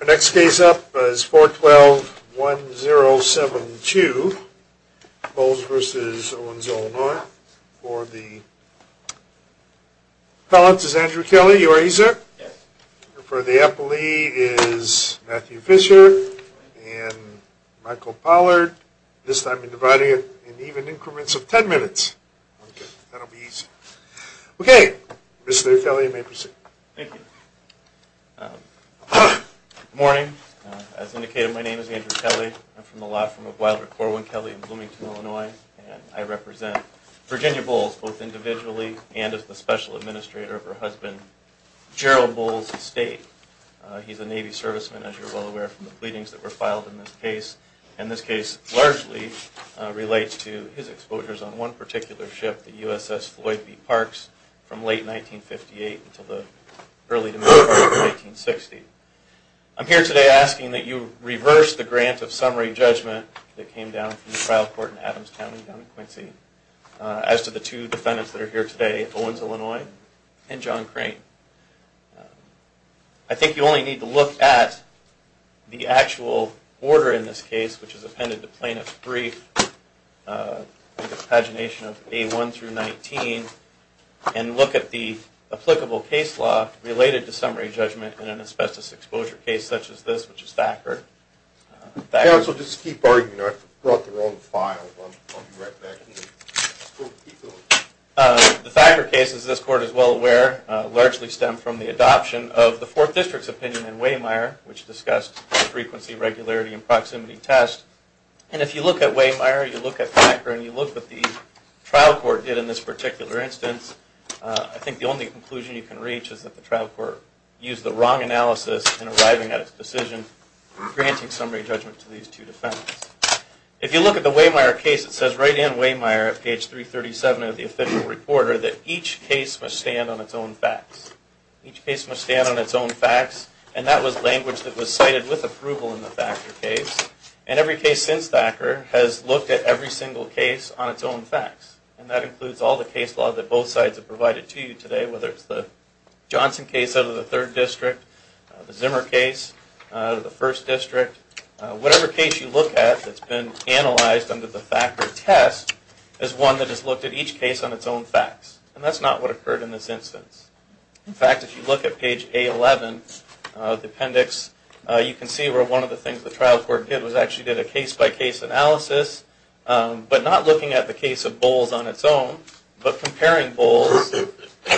The next case up is 4121072, Bowles v. Owens-Illinois. For the appellants is Andrew Kelly. Are you ready sir? Yes. For the appellee is Matthew Fisher and Michael Pollard. This time we're dividing it in even increments of 10 minutes. Okay. That'll be easy. Okay. Mr. Kelly, you may proceed. Thank you. Good morning. As indicated, my name is Andrew Kelly. I'm from the law firm of Wilder Corwin Kelly in Bloomington, Illinois, and I represent Virginia Bowles both individually and as the special administrator of her husband Gerald Bowles' estate. He's a Navy serviceman, as you're well aware from the pleadings that were filed in this case, and this case largely relates to his exposures on one particular ship, the USS Floyd v. Parks, from late 1958 until the early 1960s. I'm here today asking that you reverse the grant of summary judgment that came down from the trial court in Adams County down in Quincy as to the two defendants that are here today, Owens-Illinois and John Crane. I think you only need to look at the actual order in this case, which is appended to page, I think it's pagination of A1 through 19, and look at the applicable case law related to summary judgment in an asbestos exposure case such as this, which is Thacker. Counsel, just keep arguing. I brought the wrong file. I'll be right back. The Thacker case, as this court is well aware, largely stemmed from the adoption of the 4th District's opinion in Waymire, which discussed frequency, regularity, and proximity tests. And if you look at Waymire, you look at Thacker, and you look at what the trial court did in this particular instance, I think the only conclusion you can reach is that the trial court used the wrong analysis in arriving at its decision, granting summary judgment to these two defendants. If you look at the Waymire case, it says right in Waymire at page 337 of the official reporter that each case must stand on its own facts. Each case must stand on its own facts, and that was language that was cited with approval in the Thacker case. And every case since Thacker has looked at every single case on its own facts. And that includes all the case law that both sides have provided to you today, whether it's the Johnson case out of the 3rd District, the Zimmer case out of the 1st District. Whatever case you look at that's been analyzed under the Thacker test is one that has looked at each case on its own facts. And that's not what occurred in this instance. In fact, if you look at page A11 of the appendix, you can see where one of the things the trial court did was actually did a case-by-case analysis, but not looking at the case of Bowles on its own, but comparing Bowles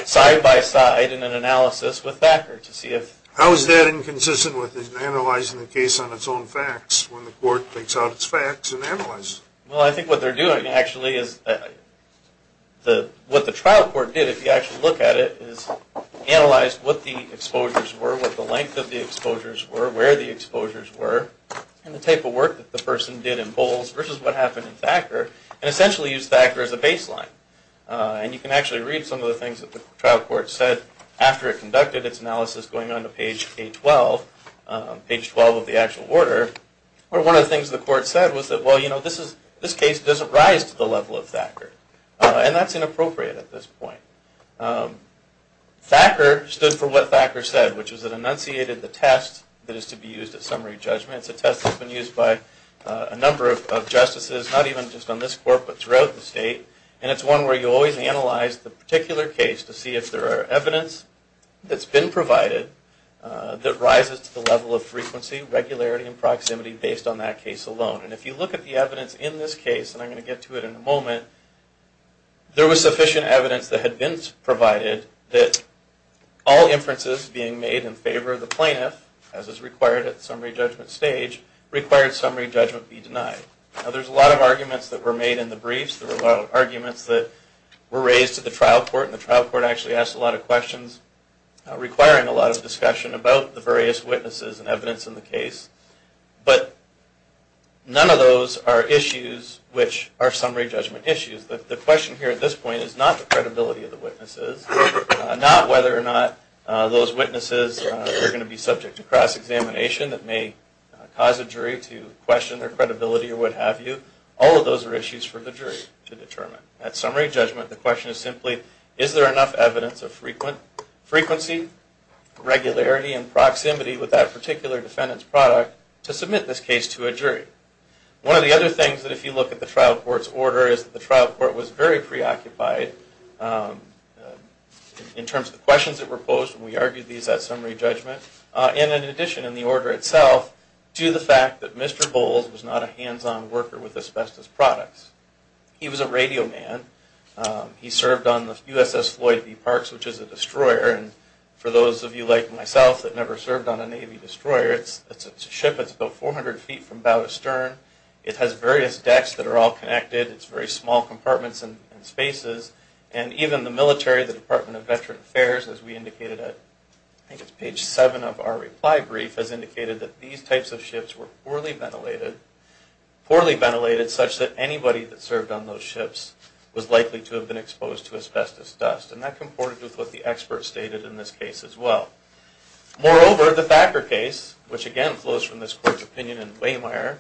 side-by-side in an analysis with Thacker to see if... How is that inconsistent with analyzing the case on its own facts when the court takes out its facts and analyzes it? Well, I think what they're doing actually is... What the trial court did, if you actually look at it, is analyze what the exposures were, what the length of the exposures were, where the exposures were, and the type of work that the person did in Bowles versus what happened in Thacker, and essentially used Thacker as a baseline. And you can actually read some of the things that the trial court said after it conducted its analysis going on to page A12, page 12 of the actual order, where one of the things the court said was that, well, you know, this case doesn't rise to the level of Thacker. And that's inappropriate at this point. Thacker stood for what Thacker said, which is it enunciated the test that is to be used at summary judgment. It's a test that's been used by a number of justices, not even just on this court, but throughout the state. And it's one where you always analyze the particular case to see if there are evidence that's been provided that rises to the level of frequency, regularity, and proximity based on that case alone. And if you look at the evidence in this case, and I'm going to get to it in a moment, there was sufficient evidence that had been provided that all inferences being made in favor of the plaintiff, as is required at the summary judgment stage, required summary judgment be denied. Now, there's a lot of arguments that were made in the briefs. There were a lot of arguments that were raised to the trial court, and the trial court actually asked a lot of questions requiring a lot of discussion about the various witnesses and evidence in the case. But none of those are issues which are summary judgment issues. The question here at this point is not the credibility of the witnesses, not whether or not those witnesses are going to be subject to cross-examination that may cause a jury to question their credibility or what have you. All of those are issues for the jury to determine. At summary judgment, the question is simply, is there enough evidence of frequency, regularity, and proximity with that particular defendant's product to submit this case to a jury? One of the other things that if you look at the trial court's order is that the trial court was very preoccupied in terms of the questions that were posed when we argued these at summary judgment, and in addition in the order itself, to the fact that Mr. Bowles was not a hands-on worker with asbestos products. He was a radio man. He served on the USS Floyd v. Parks, which is a destroyer, and for those of you like myself that never served on a Navy destroyer, it's a ship that's about 400 feet from bow to stern. It has various decks that are all connected. It's very small compartments and spaces, and even the military, the Department of Veteran Affairs, as we indicated, I think it's page 7 of our reply brief, has indicated that these types of ships were poorly ventilated, poorly ventilated such that anybody that served on those ships was likely to have been exposed to asbestos dust, and that comported with what the expert stated in this case as well. Moreover, the Thacker case, which again flows from this court's opinion in Waymire,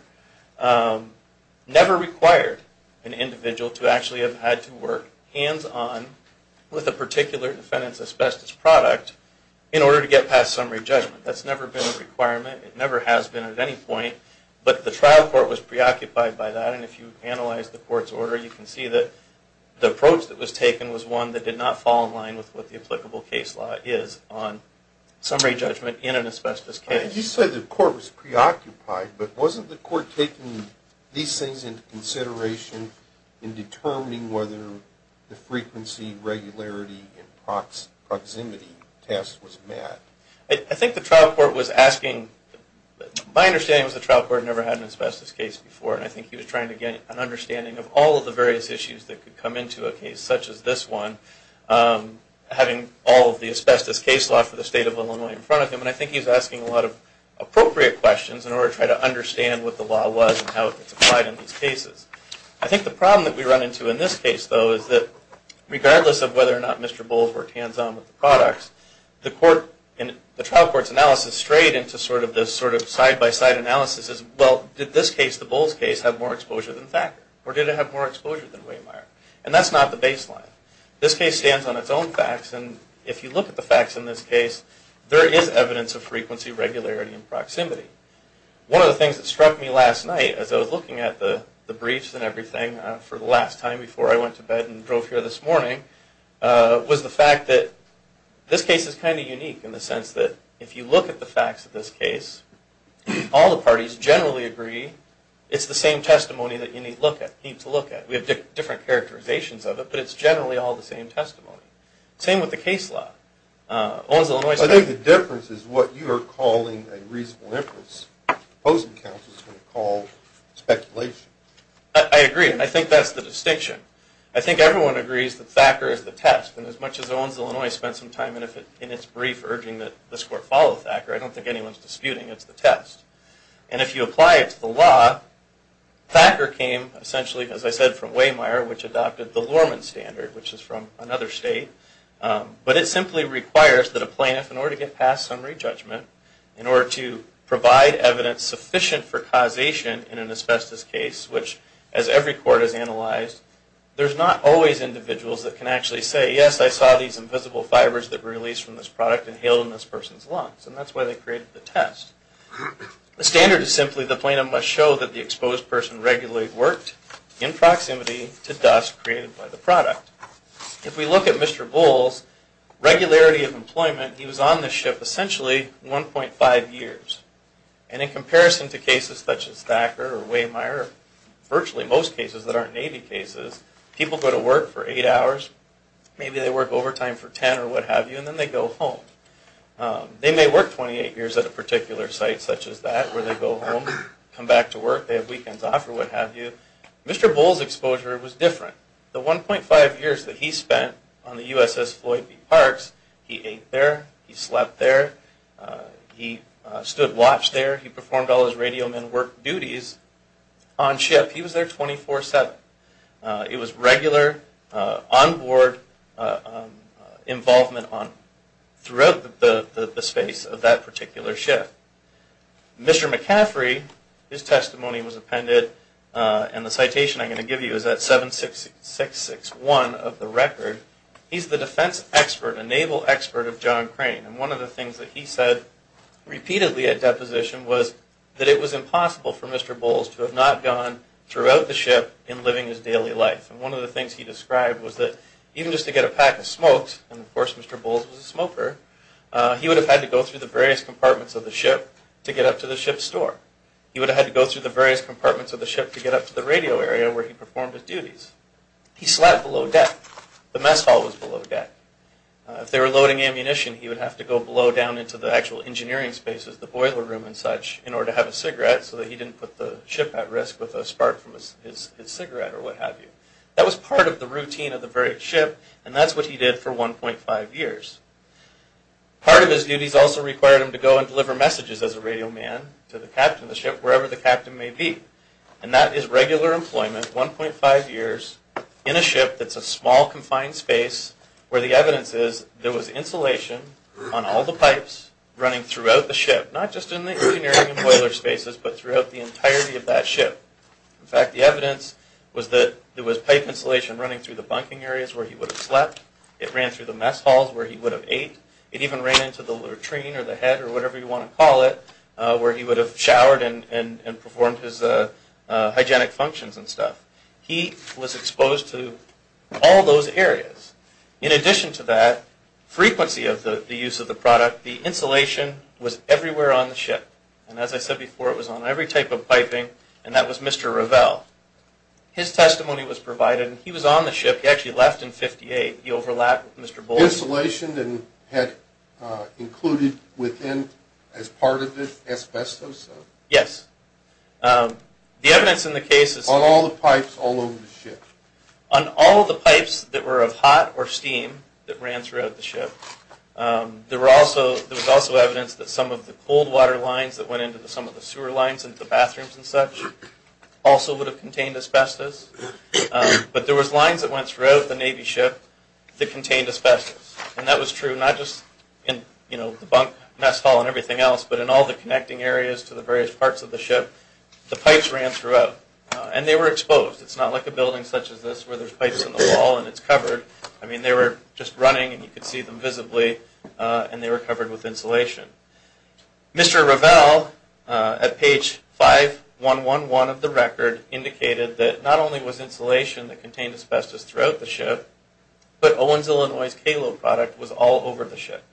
never required an individual to actually have had to work hands-on with a particular defendant's asbestos product in order to get past summary judgment. That's never been a requirement. It never has been at any point, but the trial court was preoccupied by that, and if you analyze the court's order, you can see that the approach that was taken was one that did not fall in line with what the applicable case law is on summary judgment in an asbestos case. You said the court was preoccupied, but wasn't the court taking these things into consideration in determining whether the frequency, regularity, and proximity test was met? I think the trial court was asking, my understanding was the trial court never had an asbestos case before, and I think he was trying to get an understanding of all of the various issues that could come into a case such as this one, having all of the asbestos case law for the state of Illinois in front of him, and I think he was asking a lot of appropriate questions in order to try to understand what the law was and how it was applied in these cases. I think the problem that we run into in this case, though, is that regardless of whether or not Mr. Bowles worked hands-on with the products, the trial court's analysis strayed into sort of this side-by-side analysis of, well, did this case, the Bowles case, have more exposure than Thacker, or did it have more exposure than Wehmeyer? And that's not the baseline. This case stands on its own facts, and if you look at the facts in this case, there is evidence of frequency, regularity, and proximity. One of the things that struck me last night as I was looking at the briefs and everything for the last time before I went to bed and drove here this morning, was the fact that this case is kind of unique in the sense that if you look at the facts of this case, all the parties generally agree it's the same testimony that you need to look at. We have different characterizations of it, but it's generally all the same testimony. Same with the case law. I think the difference is what you are calling a reasonable inference. The opposing counsel is going to call speculation. I agree, and I think that's the distinction. I think everyone agrees that Thacker is the test, and as much as Owens, Illinois spent some time in its brief urging that this court follow Thacker, I don't think anyone is disputing it's the test. And if you apply it to the law, Thacker came essentially, as I said, from Wehmeyer, which adopted the Lorman standard, which is from another state. But it simply requires that a plaintiff, in order to get past summary judgment, in order to provide evidence sufficient for causation in an asbestos case, which, as every court has analyzed, there's not always individuals that can actually say, yes, I saw these invisible fibers that were released from this product inhaled in this person's lungs, and that's why they created the test. The standard is simply the plaintiff must show that the exposed person regularly worked in proximity to dust created by the product. If we look at Mr. Bowles, regularity of employment, he was on this ship essentially 1.5 years. And in comparison to cases such as Thacker or Wehmeyer, virtually most cases that aren't Navy cases, people go to work for 8 hours, maybe they work overtime for 10 or what have you, and then they go home. They may work 28 years at a particular site such as that, where they go home, come back to work, they have weekends off or what have you. Mr. Bowles' exposure was different. The 1.5 years that he spent on the USS Floyd v. Parks, he ate there, he slept there, he stood watch there, he performed all his radioman work duties on ship. He was there 24-7. It was regular onboard involvement throughout the space of that particular ship. Mr. McCaffrey, his testimony was appended, and the citation I'm going to give you is at 76661 of the record. He's the defense expert, a naval expert of John Crane, and one of the things that he said repeatedly at deposition was that it was impossible for Mr. Bowles to have not gone throughout the ship in living his daily life. And one of the things he described was that even just to get a pack of smokes, and of course Mr. Bowles was a smoker, he would have had to go through the various compartments of the ship to get up to the ship store. He would have had to go through the various compartments of the ship to get up to the radio area where he performed his duties. He slept below deck. The mess hall was below deck. If they were loading ammunition, he would have to go below down into the actual engineering spaces, the boiler room and such, in order to have a cigarette so that he didn't put the ship at risk with a spark from his cigarette or what have you. That was part of the routine of the very ship, and that's what he did for 1.5 years. Part of his duties also required him to go and deliver messages as a radioman to the captain of the ship, wherever the captain may be. And that is regular employment, 1.5 years, in a ship that's a small, confined space, where the evidence is there was insulation on all the pipes running throughout the ship, not just in the engineering and boiler spaces, but throughout the entirety of that ship. In fact, the evidence was that there was pipe insulation running through the bunking areas where he would have slept. It ran through the mess halls where he would have ate. It even ran into the latrine or the head or whatever you want to call it, where he would have showered and performed his hygienic functions and stuff. He was exposed to all those areas. In addition to that, frequency of the use of the product, the insulation was everywhere on the ship. And as I said before, it was on every type of piping, and that was Mr. Revell. His testimony was provided, and he was on the ship. He actually left in 1958. He overlapped with Mr. Bullock. Was the insulation included as part of the asbestos? Yes. On all the pipes all over the ship? On all the pipes that were of hot or steam that ran throughout the ship. There was also evidence that some of the cold water lines that went into some of the sewer lines and the bathrooms and such also would have contained asbestos. But there was lines that went throughout the Navy ship that contained asbestos. And that was true not just in the mess hall and everything else, but in all the connecting areas to the various parts of the ship. The pipes ran throughout, and they were exposed. It's not like a building such as this where there's pipes in the wall and it's covered. I mean, they were just running, and you could see them visibly, and they were covered with insulation. Mr. Revell, at page 5111 of the record, indicated that not only was insulation that contained asbestos throughout the ship, but Owens, Illinois' KALO product was all over the ship.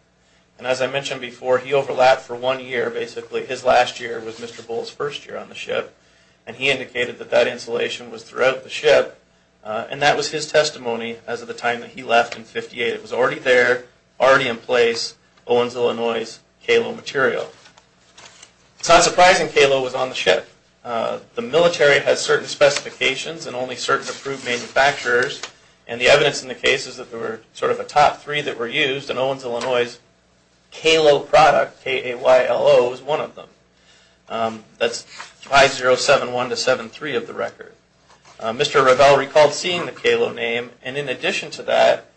And as I mentioned before, he overlapped for one year, basically. His last year was Mr. Bullock's first year on the ship, and he indicated that that insulation was throughout the ship. And that was his testimony as of the time that he left in 1958. It was already there, already in place, Owens, Illinois' KALO material. It's not surprising KALO was on the ship. The military has certain specifications and only certain approved manufacturers, and the evidence in the case is that there were sort of a top three that were used, and Owens, Illinois' KALO product, K-A-Y-L-O, was one of them. That's 5071 to 7-3 of the record. Mr. Revell recalled seeing the KALO name, and in addition to that,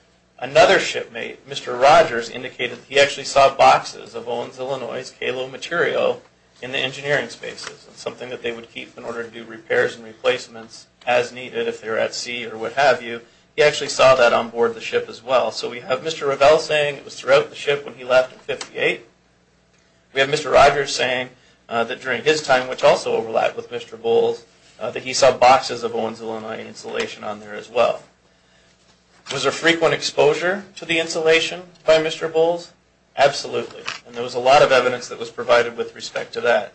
another shipmate, Mr. Rogers, indicated he actually saw boxes of Owens, Illinois' KALO material in the engineering spaces, something that they would keep in order to do repairs and replacements as needed if they were at sea or what have you. He actually saw that on board the ship as well. So we have Mr. Revell saying it was throughout the ship when he left in 1958. We have Mr. Rogers saying that during his time, which also overlapped with Mr. Bull's, that he saw boxes of Owens, Illinois' insulation on there as well. Was there frequent exposure to the insulation by Mr. Bull's? Absolutely, and there was a lot of evidence that was provided with respect to that.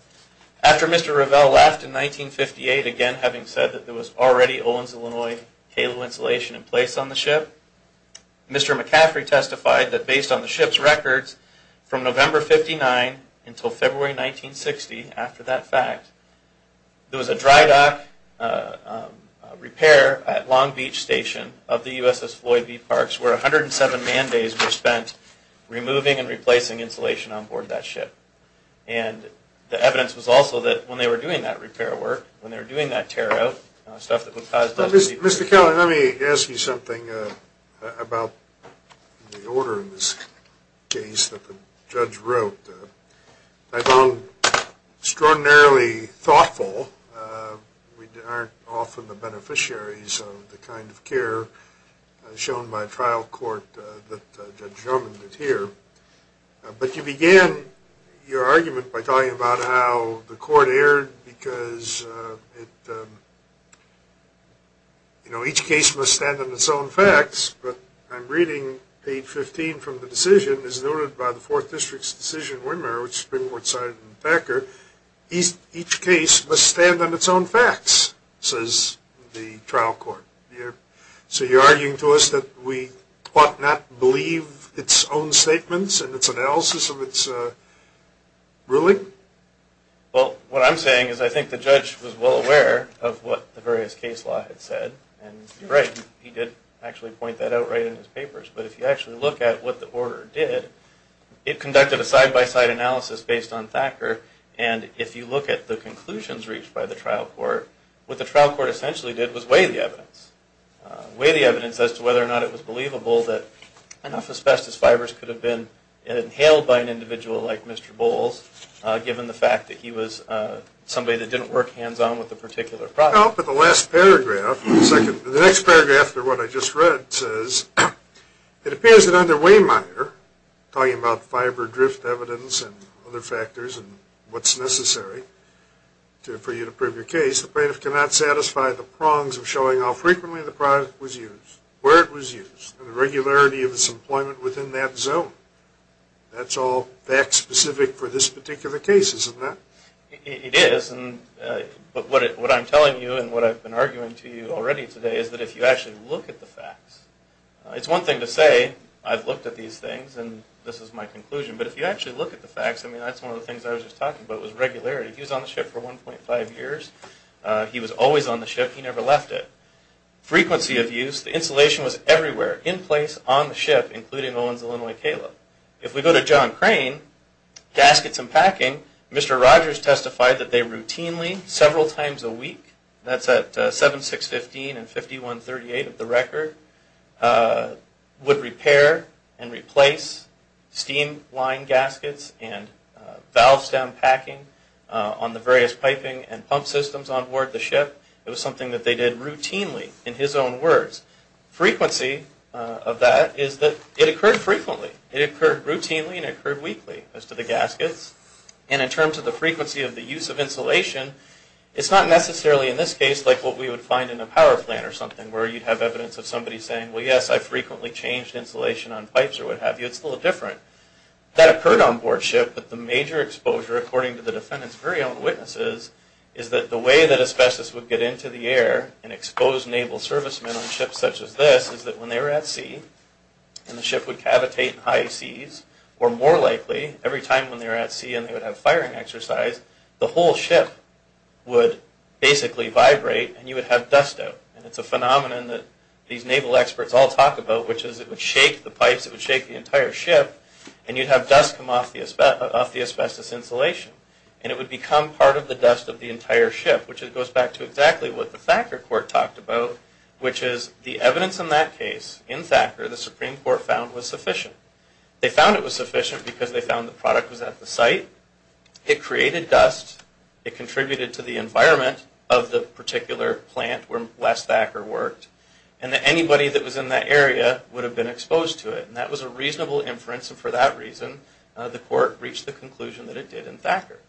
After Mr. Revell left in 1958, again having said that there was already Owens, Illinois' KALO insulation in place on the ship, Mr. McCaffrey testified that based on the ship's records, from November 59 until February 1960, after that fact, there was a dry dock repair at Long Beach Station of the USS Floyd Bee Parks where 107 man days were spent removing and replacing insulation on board that ship. And the evidence was also that when they were doing that repair work, when they were doing that tear out, stuff that would cause... Mr. Kelly, let me ask you something about the order in this case that the judge wrote. I found extraordinarily thoughtful. We aren't often the beneficiaries of the kind of care shown by trial court that Judge Drummond did here. But you began your argument by talking about how the court erred because it... You know, each case must stand on its own facts, but I'm reading page 15 from the decision, as noted by the 4th District's decision winner, which has been more excited than Packer, each case must stand on its own facts, says the trial court. So you're arguing to us that we ought not believe its own statements and its analysis of its ruling? Well, what I'm saying is I think the judge was well aware of what the various case law had said, and right, he did actually point that out right in his papers. But if you actually look at what the order did, it conducted a side-by-side analysis based on Thacker, and if you look at the conclusions reached by the trial court, what the trial court essentially did was weigh the evidence. Weigh the evidence as to whether or not it was believable that enough asbestos fibers could have been inhaled by an individual like Mr. Bowles, given the fact that he was somebody that didn't work hands-on with a particular product. Well, but the last paragraph, the next paragraph to what I just read says, it appears that under Wehmeyer, talking about fiber drift evidence and other factors and what's necessary for you to prove your case, the plaintiff cannot satisfy the prongs of showing how frequently the product was used, where it was used, and the regularity of its employment within that zone. That's all fact-specific for this particular case, isn't it? It is, but what I'm telling you and what I've been arguing to you already today is that if you actually look at the facts, it's one thing to say, I've looked at these things and this is my conclusion, but if you actually look at the facts, I mean, that's one of the things I was just talking about was regularity. He was on the ship for 1.5 years. He was always on the ship. He never left it. Frequency of use, the insulation was everywhere, in place, on the ship, including Owen's Illinois Caleb. If we go to John Crane, gaskets and packing, Mr. Rogers testified that they routinely, several times a week, that's at 7, 6, 15, and 51, 38 of the record, would repair and replace steam line gaskets and valve stem packing on the various piping and pump systems on board the ship. It was something that they did routinely, in his own words. Frequency of that is that it occurred frequently. It occurred routinely and it occurred weekly as to the gaskets. And in terms of the frequency of the use of insulation, it's not necessarily, in this case, like what we would find in a power plant or something where you'd have evidence of somebody saying, well, yes, I frequently changed insulation on pipes or what have you. It's a little different. That occurred on board ship, but the major exposure, according to the defendant's very own witnesses, is that the way that asbestos would get into the air and expose naval servicemen on ships such as this is that when they were at sea, and the ship would cavitate in high seas, or more likely, every time when they were at sea and they would have firing exercise, the whole ship would basically vibrate and you would have dust out. And it's a phenomenon that these naval experts all talk about, which is it would shake the pipes, it would shake the entire ship, and you'd have dust come off the asbestos insulation. And it would become part of the dust of the entire ship, which goes back to exactly what the Thacker Court talked about, which is the evidence in that case, in Thacker, the Supreme Court found was sufficient. They found it was sufficient because they found the product was at the site, it created dust, it contributed to the environment of the particular plant where Wes Thacker worked, and that anybody that was in that area would have been exposed to it. And that was a reasonable inference, and for that reason, the court reached the conclusion that it did in Thacker.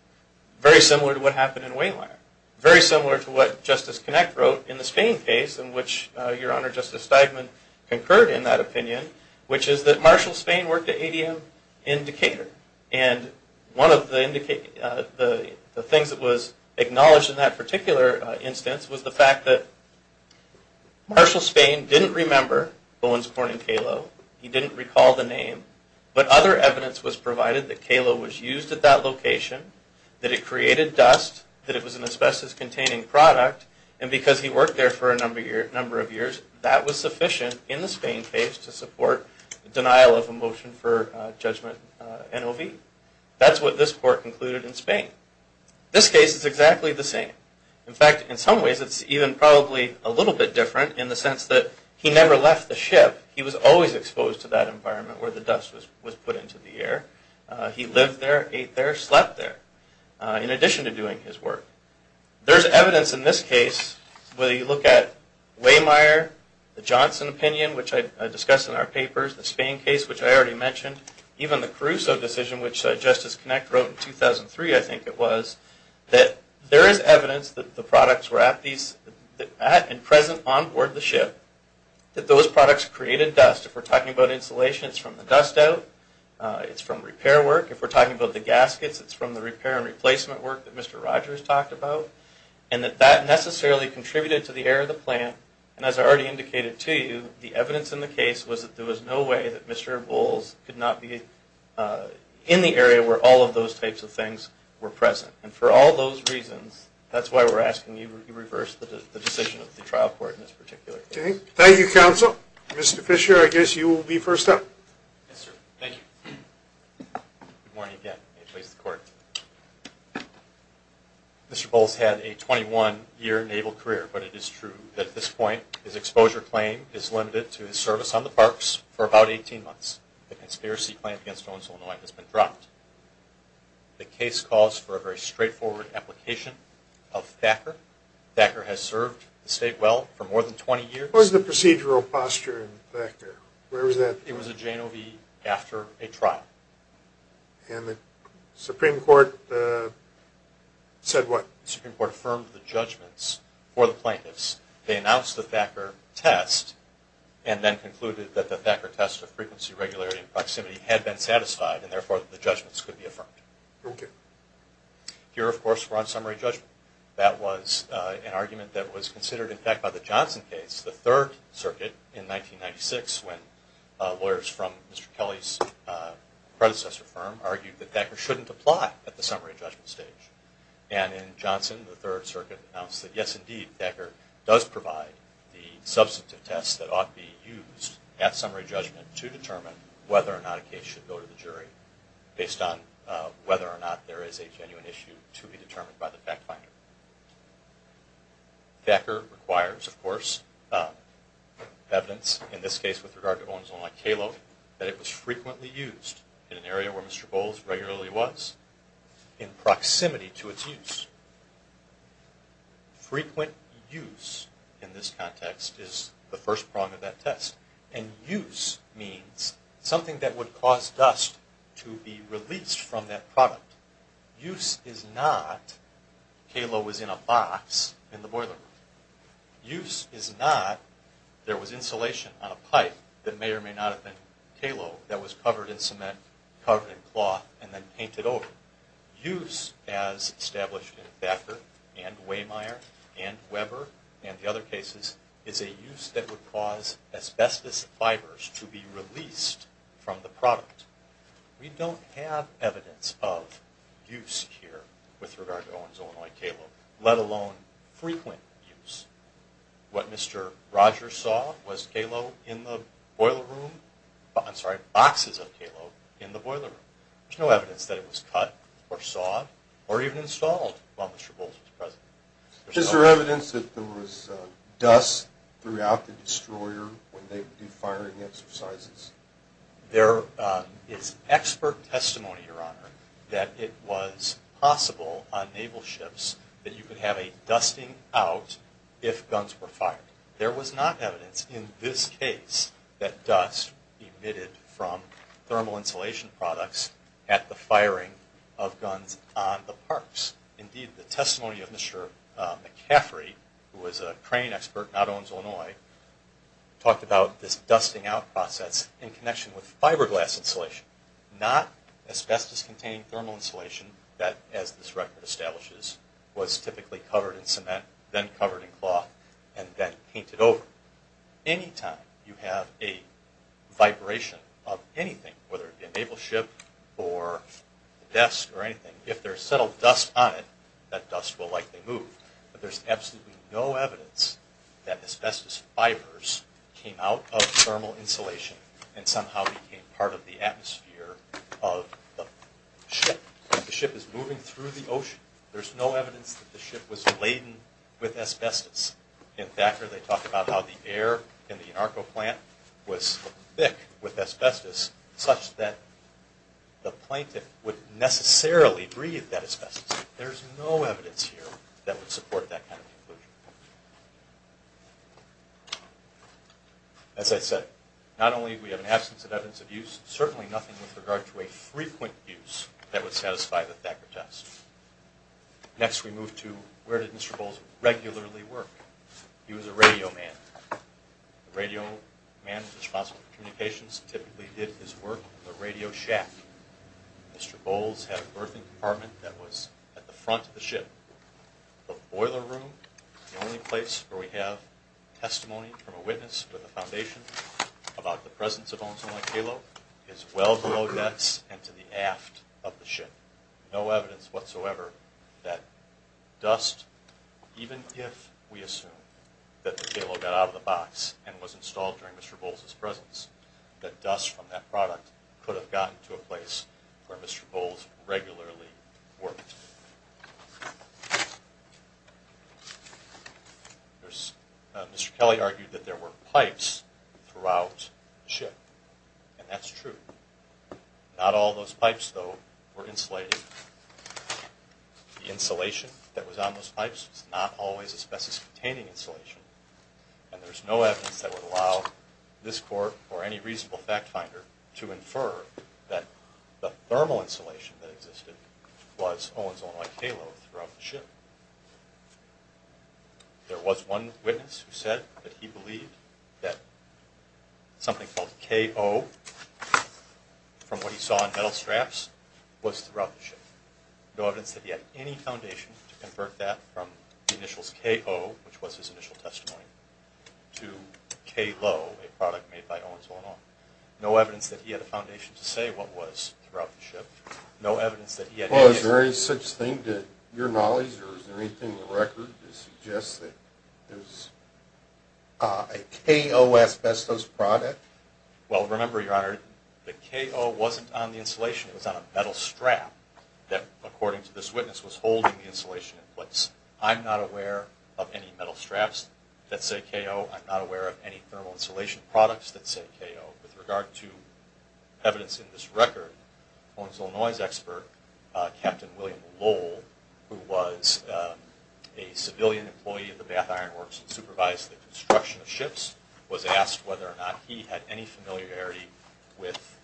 Very similar to what happened in Wayliar. Very similar to what Justice Kinect wrote in the Spain case, in which Your Honor Justice Steigman concurred in that opinion, which is that Marshall Spain worked at ADM in Decatur. And one of the things that was acknowledged in that particular instance was the fact that But other evidence was provided that Kalo was used at that location, that it created dust, that it was an asbestos-containing product, and because he worked there for a number of years, that was sufficient in the Spain case to support denial of a motion for judgment NOV. That's what this court concluded in Spain. This case is exactly the same. In fact, in some ways, it's even probably a little bit different in the sense that he never left the ship. He was always exposed to that environment where the dust was put into the air. He lived there, ate there, slept there, in addition to doing his work. There's evidence in this case, whether you look at Wayliar, the Johnson opinion, which I discussed in our papers, the Spain case, which I already mentioned, even the Caruso decision, which Justice Kinect wrote in 2003, I think it was, that there is evidence that the products were at and present onboard the ship, that those products created dust. If we're talking about insulation, it's from the dust-out. It's from repair work. If we're talking about the gaskets, it's from the repair and replacement work that Mr. Rogers talked about, and that that necessarily contributed to the error of the plan. And as I already indicated to you, the evidence in the case was that there was no way that Mr. Bowles could not be in the area where all of those types of things were present. And for all those reasons, that's why we're asking you to reverse the decision of the trial court in this particular case. Thank you, counsel. Mr. Fisher, I guess you will be first up. Yes, sir. Thank you. Good morning again. May it please the Court. Mr. Bowles had a 21-year naval career, but it is true that at this point his exposure claim is limited to his service on the parks for about 18 months. The conspiracy plan against Owens, Illinois has been dropped. The case calls for a very straightforward application of Thacker. Thacker has served the state well for more than 20 years. What was the procedural posture in Thacker? It was a J-O-V after a trial. And the Supreme Court said what? The Supreme Court affirmed the judgments for the plaintiffs. They announced the Thacker test and then concluded that the Thacker test of frequency, regularity, and proximity had been satisfied and therefore the judgments could be affirmed. Okay. Here, of course, we're on summary judgment. That was an argument that was considered, in fact, by the Johnson case, the Third Circuit in 1996 when lawyers from Mr. Kelly's predecessor firm argued that Thacker shouldn't apply at the summary judgment stage. And in Johnson, the Third Circuit announced that, yes, indeed, Thacker does provide the substantive test that ought to be used at summary judgment to determine whether or not a case should go to the jury based on whether or not there is a genuine issue to be determined by the fact finder. Thacker requires, of course, evidence, in this case with regard to Owens, Illinois, and Kalo that it was frequently used in an area where Mr. Bowles regularly was in proximity to its use. Frequent use in this context is the first prong of that test. And use means something that would cause dust to be released from that product. Use is not Kalo was in a box in the boiler room. Use is not there was insulation on a pipe that may or may not have been Kalo that was covered in cement, covered in cloth, and then painted over. Use, as established in Thacker and Waymire and Weber and the other cases, is a use that would cause asbestos fibers to be released from the product. We don't have evidence of use here with regard to Owens, Illinois, and Kalo, let alone frequent use. What Mr. Rogers saw was Kalo in the boiler room. I'm sorry, boxes of Kalo in the boiler room. There's no evidence that it was cut or sawed or even installed while Mr. Bowles was present. Is there evidence that there was dust throughout the destroyer when they would do firing exercises? There is expert testimony, Your Honor, that it was possible on naval ships that you could have a dusting out if guns were fired. There was not evidence in this case that dust emitted from thermal insulation products at the firing of guns on the parks. Indeed, the testimony of Mr. McCaffrey, who was a crane expert, not Owens, in connection with fiberglass insulation, not asbestos-containing thermal insulation that, as this record establishes, was typically covered in cement, then covered in cloth, and then painted over. Anytime you have a vibration of anything, whether it be a naval ship or a desk or anything, if there's subtle dust on it, that dust will likely move. But there's absolutely no evidence that asbestos fibers came out of thermal insulation and somehow became part of the atmosphere of the ship. The ship is moving through the ocean. There's no evidence that the ship was laden with asbestos. In Thacker, they talk about how the air in the anarcho plant was thick with asbestos such that the plaintiff would necessarily breathe that asbestos. There's no evidence here that would support that kind of conclusion. As I said, not only do we have an absence of evidence of use, certainly nothing with regard to a frequent use that would satisfy the Thacker test. Next we move to where did Mr. Bowles regularly work. He was a radio man. A radio man is responsible for communications. He typically did his work in the radio shack. Mr. Bowles had a berthing department that was at the front of the ship. The boiler room, the only place where we have testimony from a witness with a foundation about the presence of ozone like halo, is well below decks and to the aft of the ship. No evidence whatsoever that dust, even if we assume that the halo got out of the box and was installed during Mr. Bowles' presence, that dust from that product could have gotten to a place where Mr. Bowles regularly worked. Mr. Kelly argued that there were pipes throughout the ship, and that's true. Not all those pipes, though, were insulated. The insulation that was on those pipes was not always asbestos-containing insulation, and there's no evidence that would allow this court or any reasonable fact finder to infer that the thermal insulation that existed was ozone-like halo throughout the ship. There was one witness who said that he believed that something called K-O, from what he saw in metal straps, was throughout the ship. No evidence that he had any foundation to convert that from the initials K-O, which was his initial testimony, to K-Lo, a product made by ozone-on. No evidence that he had a foundation to say what was throughout the ship. No evidence that he had any... Well, is there any such thing to your knowledge, or is there anything in the record that suggests that it was a K-O asbestos product? Well, remember, Your Honor, the K-O wasn't on the insulation. It was on a metal strap that, according to this witness, was holding the insulation in place. I'm not aware of any metal straps that say K-O. I'm not aware of any thermal insulation products that say K-O. With regard to evidence in this record, Owens, Illinois' expert, Captain William Lowell, who was a civilian employee of the Bath Iron Works and supervised the construction of ships, was asked whether or not he had any familiarity with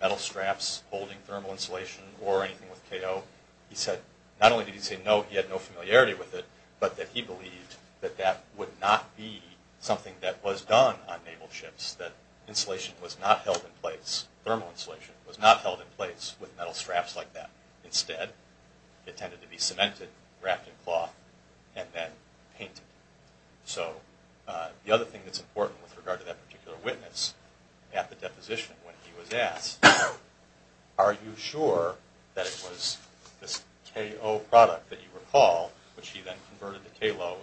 metal straps holding thermal insulation or anything with K-O. He said not only did he say no, he had no familiarity with it, but that he believed that that would not be something that was done on naval ships, that insulation was not held in place, thermal insulation, was not held in place with metal straps like that. Instead, it tended to be cemented, wrapped in cloth, and then painted. So the other thing that's important with regard to that particular witness, at the deposition when he was asked, are you sure that it was this K-O product that you recall, which he then converted to K-Lo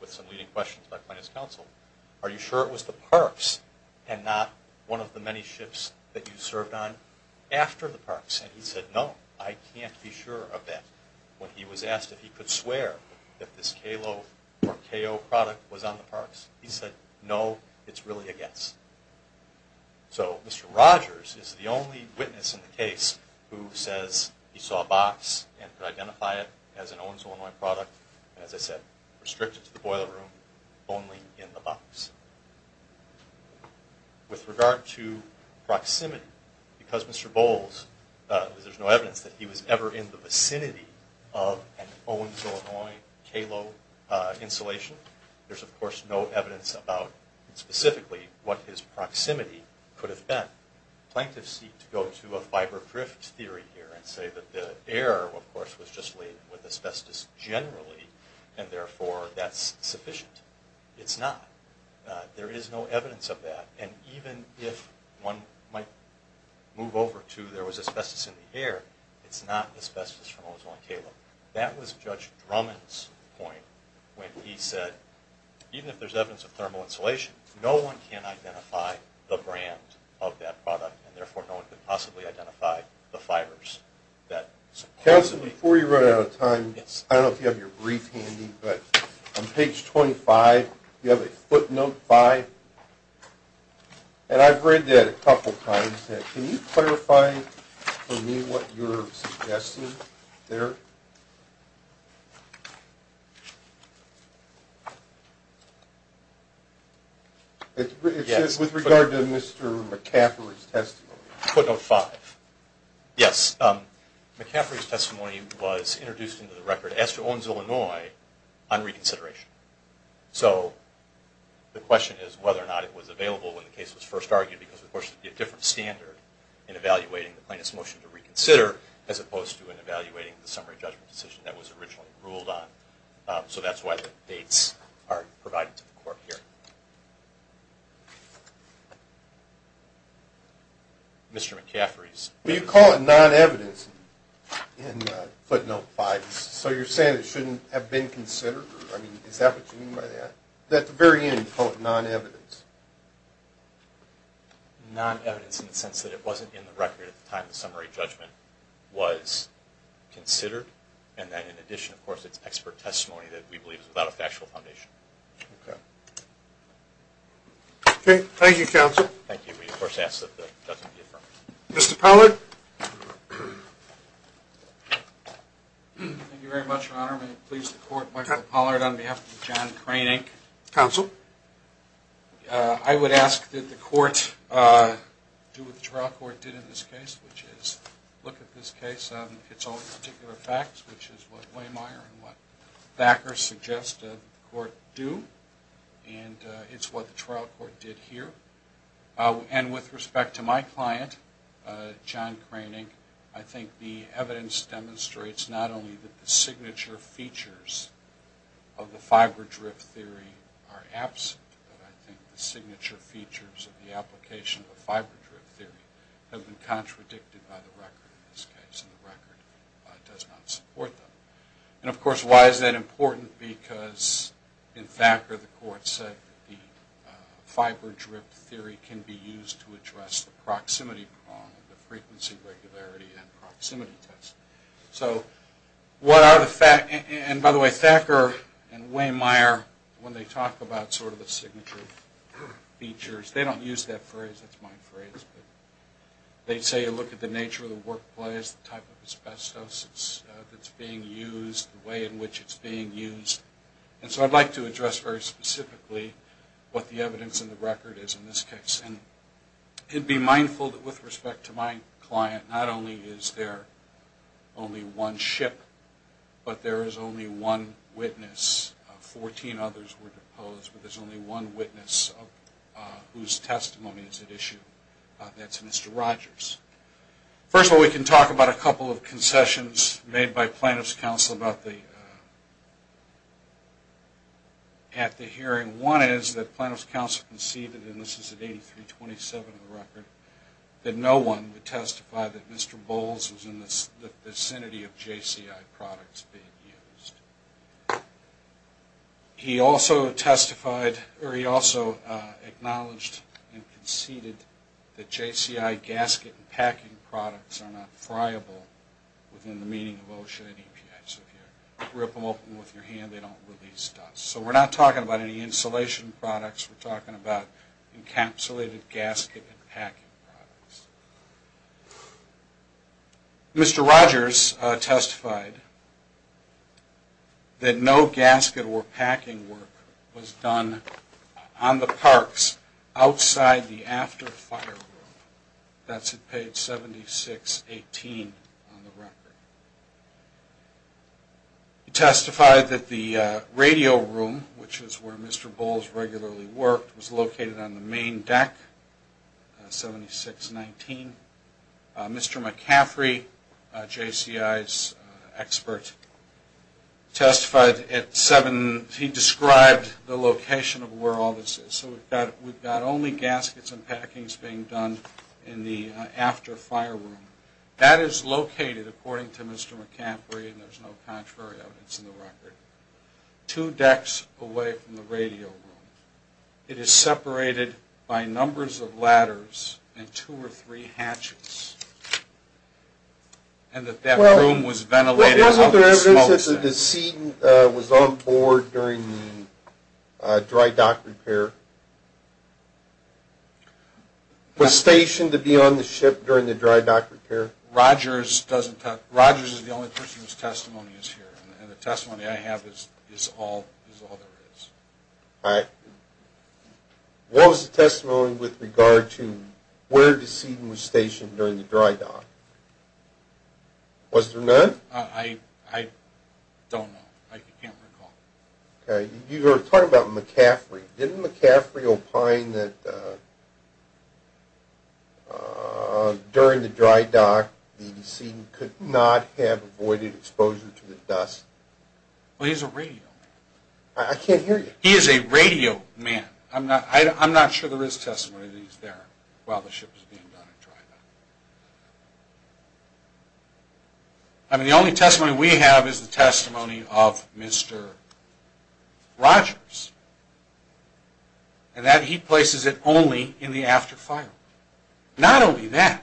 with some leading questions by plaintiff's counsel, are you sure it was the parks and not one of the many ships that you served on after the parks? And he said, no, I can't be sure of that. When he was asked if he could swear that this K-Lo or K-O product was on the parks, he said, no, it's really a guess. So Mr. Rogers is the only witness in the case who says he saw a box and could identify it as an Owens, Illinois product, and as I said, restricted to the boiler room, only in the box. With regard to proximity, because Mr. Bowles, there's no evidence that he was ever in the vicinity of an Owens, Illinois K-Lo insulation, there's of course no evidence about specifically what his proximity could have been. Plaintiffs seek to go to a fiber grift theory here and say that the air, of course, was just laden with asbestos generally, and therefore that's sufficient. It's not. There is no evidence of that. And even if one might move over to there was asbestos in the air, it's not asbestos from Owens, Illinois K-Lo. That was Judge Drummond's point when he said, even if there's evidence of thermal insulation, no one can identify the brand of that product, and therefore no one could possibly identify the fibers that supposedly... Counsel, before you run out of time, I don't know if you have your brief handy, but on page 25, you have a footnote 5, and I've read that a couple times. Can you clarify for me what you're suggesting there? With regard to Mr. McCaffrey's testimony. Footnote 5. Yes, McCaffrey's testimony was introduced into the record as to Owens, Illinois, on reconsideration. So the question is whether or not it was available when the case was first argued, because of course there would be a different standard in evaluating the plaintiff's motion to reconsider as opposed to in evaluating the summary judgment decision that was originally ruled on. So that's why the dates are provided to the court here. Mr. McCaffrey's testimony. You call it non-evidence in footnote 5, so you're saying it shouldn't have been considered? I mean, is that what you mean by that? At the very end, you call it non-evidence. Non-evidence in the sense that it wasn't in the record at the time the summary judgment was considered, and that in addition, of course, it's expert testimony that we believe is without a factual foundation. Okay. Okay, thank you, Counsel. Thank you. We, of course, ask that the judgment be affirmed. Mr. Pollard. Thank you very much, Your Honor. May it please the Court, Michael Pollard on behalf of John Crane, Inc. Counsel. I would ask that the Court do what the trial court did in this case, which is look at this case. It's all particular facts, which is what Waymeyer and what Thacker suggest the Court do, and it's what the trial court did here. And with respect to my client, John Craning, I think the evidence demonstrates not only that the signature features of the fiber drip theory are absent, but I think the signature features of the application of the fiber drip theory have been contradicted by the record, in this case, and the record does not support them. And, of course, why is that important? Because in Thacker, the Court said that the fiber drip theory can be used to address the proximity problem, the frequency regularity and proximity test. So what are the facts? And, by the way, Thacker and Waymeyer, when they talk about sort of the signature features, they don't use that phrase. That's my phrase, but they say you look at the nature of the workplace, the type of asbestos that's being used, the way in which it's being used. And so I'd like to address very specifically what the evidence in the record is in this case. And it would be mindful that with respect to my client, not only is there only one ship, but there is only one witness. Fourteen others were deposed, but there's only one witness whose testimony is at issue. That's Mr. Rogers. First of all, we can talk about a couple of concessions made by plaintiff's counsel at the hearing. One is that plaintiff's counsel conceded, and this is at 83-27 in the record, that no one would testify that Mr. Bowles was in the vicinity of JCI products being used. He also testified, or he also acknowledged and conceded that JCI gasket and packing products are not friable within the meaning of OSHA and EPI. So if you rip them open with your hand, they don't release dust. So we're not talking about any insulation products. We're talking about encapsulated gasket and packing products. Mr. Rogers testified that no gasket or packing work was done on the parks outside the after-fire room. That's at page 76-18 on the record. He testified that the radio room, which is where Mr. Bowles regularly worked, was located on the main deck, 76-19. Mr. McCaffrey, JCI's expert, testified at 7. He described the location of where all this is. So we've got only gaskets and packings being done in the after-fire room. That is located, according to Mr. McCaffrey, and there's no contrary evidence in the record, two decks away from the radio room. It is separated by numbers of ladders and two or three hatches. And that that room was ventilated. Wasn't there evidence that the decedent was on board during the dry dock repair? Was stationed to be on the ship during the dry dock repair? Rogers is the only person whose testimony is here, and the testimony I have is all there is. All right. What was the testimony with regard to where the decedent was stationed during the dry dock? Was there none? I don't know. I can't recall. Okay. You were talking about McCaffrey. Didn't McCaffrey opine that during the dry dock, the decedent could not have avoided exposure to the dust? Well, he's a radio man. I can't hear you. He is a radio man. I'm not sure there is testimony that he's there while the ship was being done in dry dock. I mean, the only testimony we have is the testimony of Mr. Rogers. And that he places it only in the after fire. Not only that.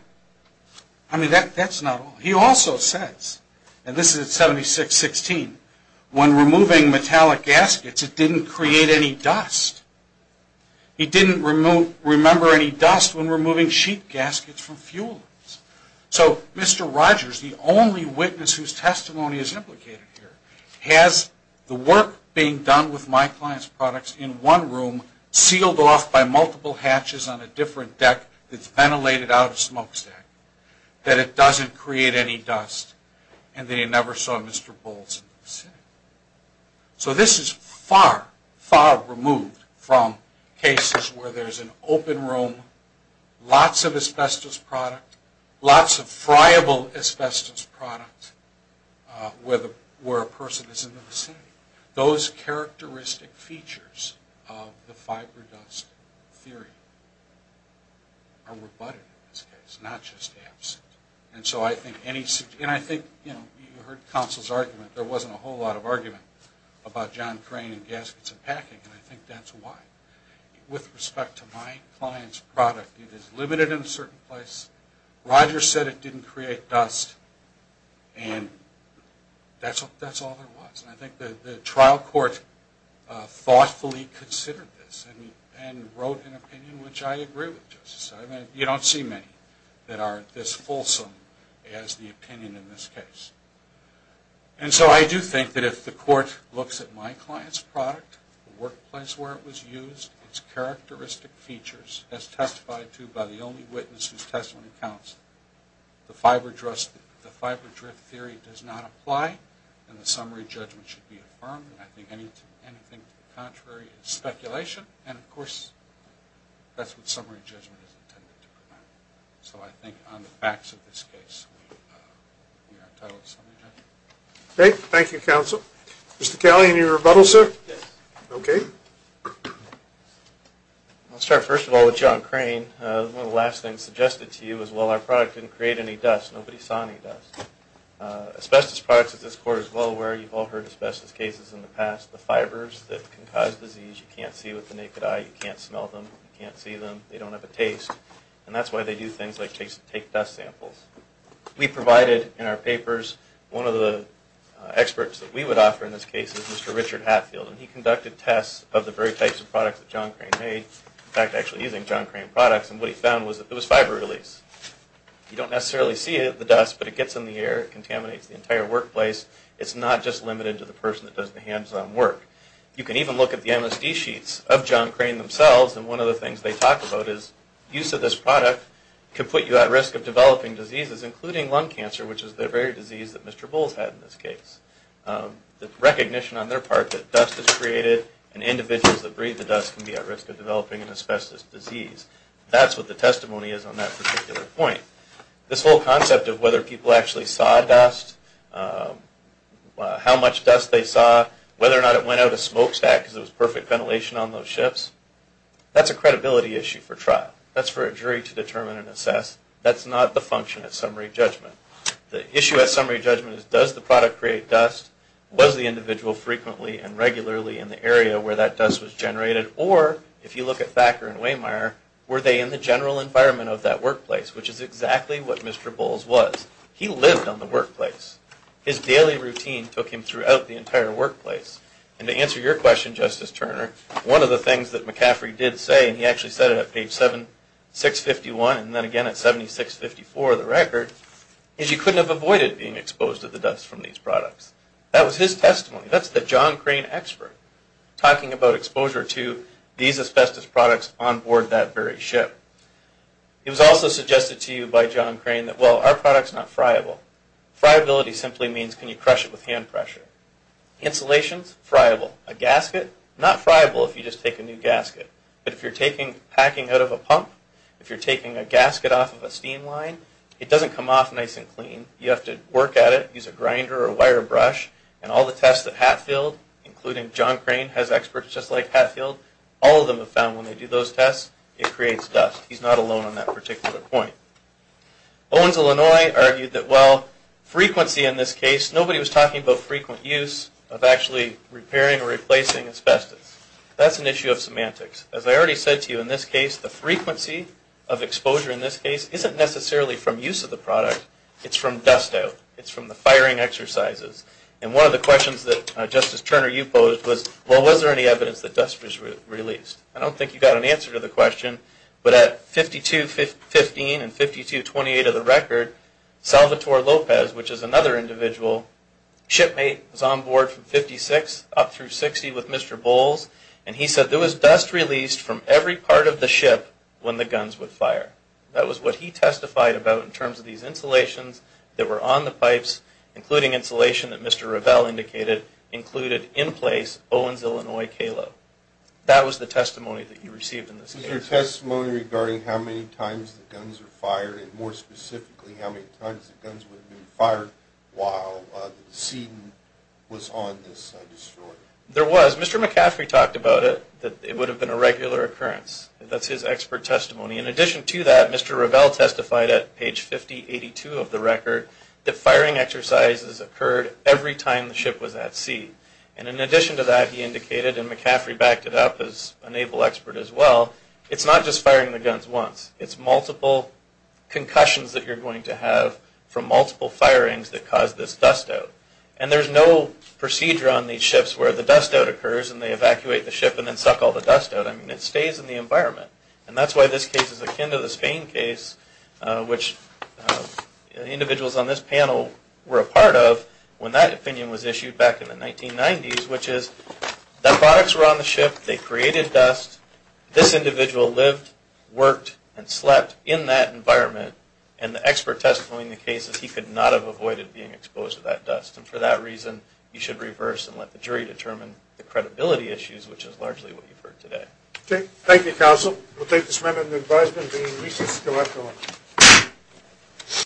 I mean, that's not all. He also says, and this is at 7616, when removing metallic gaskets, it didn't create any dust. He didn't remember any dust when removing sheet gaskets from fuelers. So, Mr. Rogers, the only witness whose testimony is implicated here, has the work being done with my client's products in one room, sealed off by multiple hatches on a different deck that's ventilated out of a smokestack, that it doesn't create any dust, and that he never saw Mr. Bowles in the vicinity. So this is far, far removed from cases where there's an open room, lots of asbestos product, lots of friable asbestos product where a person is in the vicinity. Those characteristic features of the fiber dust theory are rebutted in this case, not just absent. And I think you heard counsel's argument. There wasn't a whole lot of argument about John Crane and gaskets and packing, and I think that's why. With respect to my client's product, it is limited in a certain place. Rogers said it didn't create dust. And that's all there was. And I think the trial court thoughtfully considered this and wrote an opinion which I agree with, Justice. I mean, you don't see many that are this fulsome as the opinion in this case. And so I do think that if the court looks at my client's product, the workplace where it was used, its characteristic features as testified to by the only witness whose testimony counts, the fiber drift theory does not apply, and the summary judgment should be affirmed. I think anything to the contrary is speculation. And, of course, that's what summary judgment is intended to provide. So I think on the facts of this case we are entitled to summary judgment. Okay. Thank you, counsel. Mr. Calley, any rebuttals, sir? Yes. Okay. I'll start first of all with John Crane. One of the last things suggested to you is, well, our product didn't create any dust. Nobody saw any dust. Asbestos products, as this court is well aware, you've all heard of asbestos cases in the past. The fibers that can cause disease, you can't see with the naked eye. You can't smell them. You can't see them. They don't have a taste. And that's why they do things like take dust samples. We provided in our papers, one of the experts that we would offer in this case is Mr. Richard Hatfield, and he conducted tests of the very types of products that John Crane made, in fact, actually using John Crane products, and what he found was that there was fiber release. You don't necessarily see the dust, but it gets in the air. It contaminates the entire workplace. It's not just limited to the person that does the hands-on work. You can even look at the MSD sheets of John Crane themselves, and one of the things they talk about is use of this product can put you at risk of developing diseases, including lung cancer, which is the very disease that Mr. Bowles had in this case. The recognition on their part that dust is created, and individuals that breathe the dust can be at risk of developing an asbestos disease. That's what the testimony is on that particular point. This whole concept of whether people actually saw dust, how much dust they saw, whether or not it went out a smokestack because it was perfect ventilation on those ships, that's a credibility issue for trial. That's for a jury to determine and assess. That's not the function at summary judgment. The issue at summary judgment is does the product create dust, was the individual frequently and regularly in the area where that dust was generated, or if you look at Thacker and Wehmeyer, were they in the general environment of that workplace, which is exactly what Mr. Bowles was. He lived on the workplace. His daily routine took him throughout the entire workplace. And to answer your question, Justice Turner, one of the things that McCaffrey did say, and he actually said it at page 751 and then again at 7654 of the record, is you couldn't have avoided being exposed to the dust from these products. That was his testimony. That's the John Crane expert talking about exposure to these asbestos products on board that very ship. It was also suggested to you by John Crane that, well, our product's not friable. Friability simply means can you crush it with hand pressure. Insulations, friable. A gasket, not friable if you just take a new gasket. But if you're packing out of a pump, if you're taking a gasket off of a steam line, it doesn't come off nice and clean. You have to work at it, use a grinder or a wire brush. And all the tests that Hatfield, including John Crane, has experts just like Hatfield, all of them have found when they do those tests, it creates dust. He's not alone on that particular point. Owens, Illinois, argued that, well, frequency in this case, nobody was talking about frequent use of actually repairing or replacing asbestos. That's an issue of semantics. As I already said to you, in this case, the frequency of exposure in this case isn't necessarily from use of the product. It's from dust out. It's from the firing exercises. And one of the questions that, Justice Turner, you posed was, well, was there any evidence that dust was released? I don't think you got an answer to the question. But at 52-15 and 52-28 of the record, Salvatore Lopez, which is another individual, shipmate, was on board from 56 up through 60 with Mr. Bowles, and he said there was dust released from every part of the ship when the guns would fire. That was what he testified about in terms of these insulations that were on the pipes, including insulation that Mr. Revell indicated included in place Owens, Illinois, KALO. That was the testimony that he received in this case. Was there testimony regarding how many times the guns were fired, and more specifically how many times the guns would be fired while the decedent was on this destroyer? There was. Mr. McCaffrey talked about it, that it would have been a regular occurrence. That's his expert testimony. In addition to that, Mr. Revell testified at page 50-82 of the record that firing exercises occurred every time the ship was at sea. And in addition to that, he indicated, and McCaffrey backed it up as a naval expert as well, it's not just firing the guns once. It's multiple concussions that you're going to have from multiple firings that cause this dust out. And there's no procedure on these ships where the dust out occurs and they evacuate the ship and then suck all the dust out. I mean, it stays in the environment. And that's why this case is akin to the Spain case, which individuals on this panel were a part of when that opinion was issued back in the 1990s, which is that products were on the ship, they created dust, this individual lived, worked, and slept in that environment, and the expert testimony in the case is he could not have avoided being exposed to that dust. And for that reason, you should reverse and let the jury determine the credibility issues, which is largely what you've heard today. Okay. Thank you, counsel. We'll take this matter into advisement. The hearing is adjourned.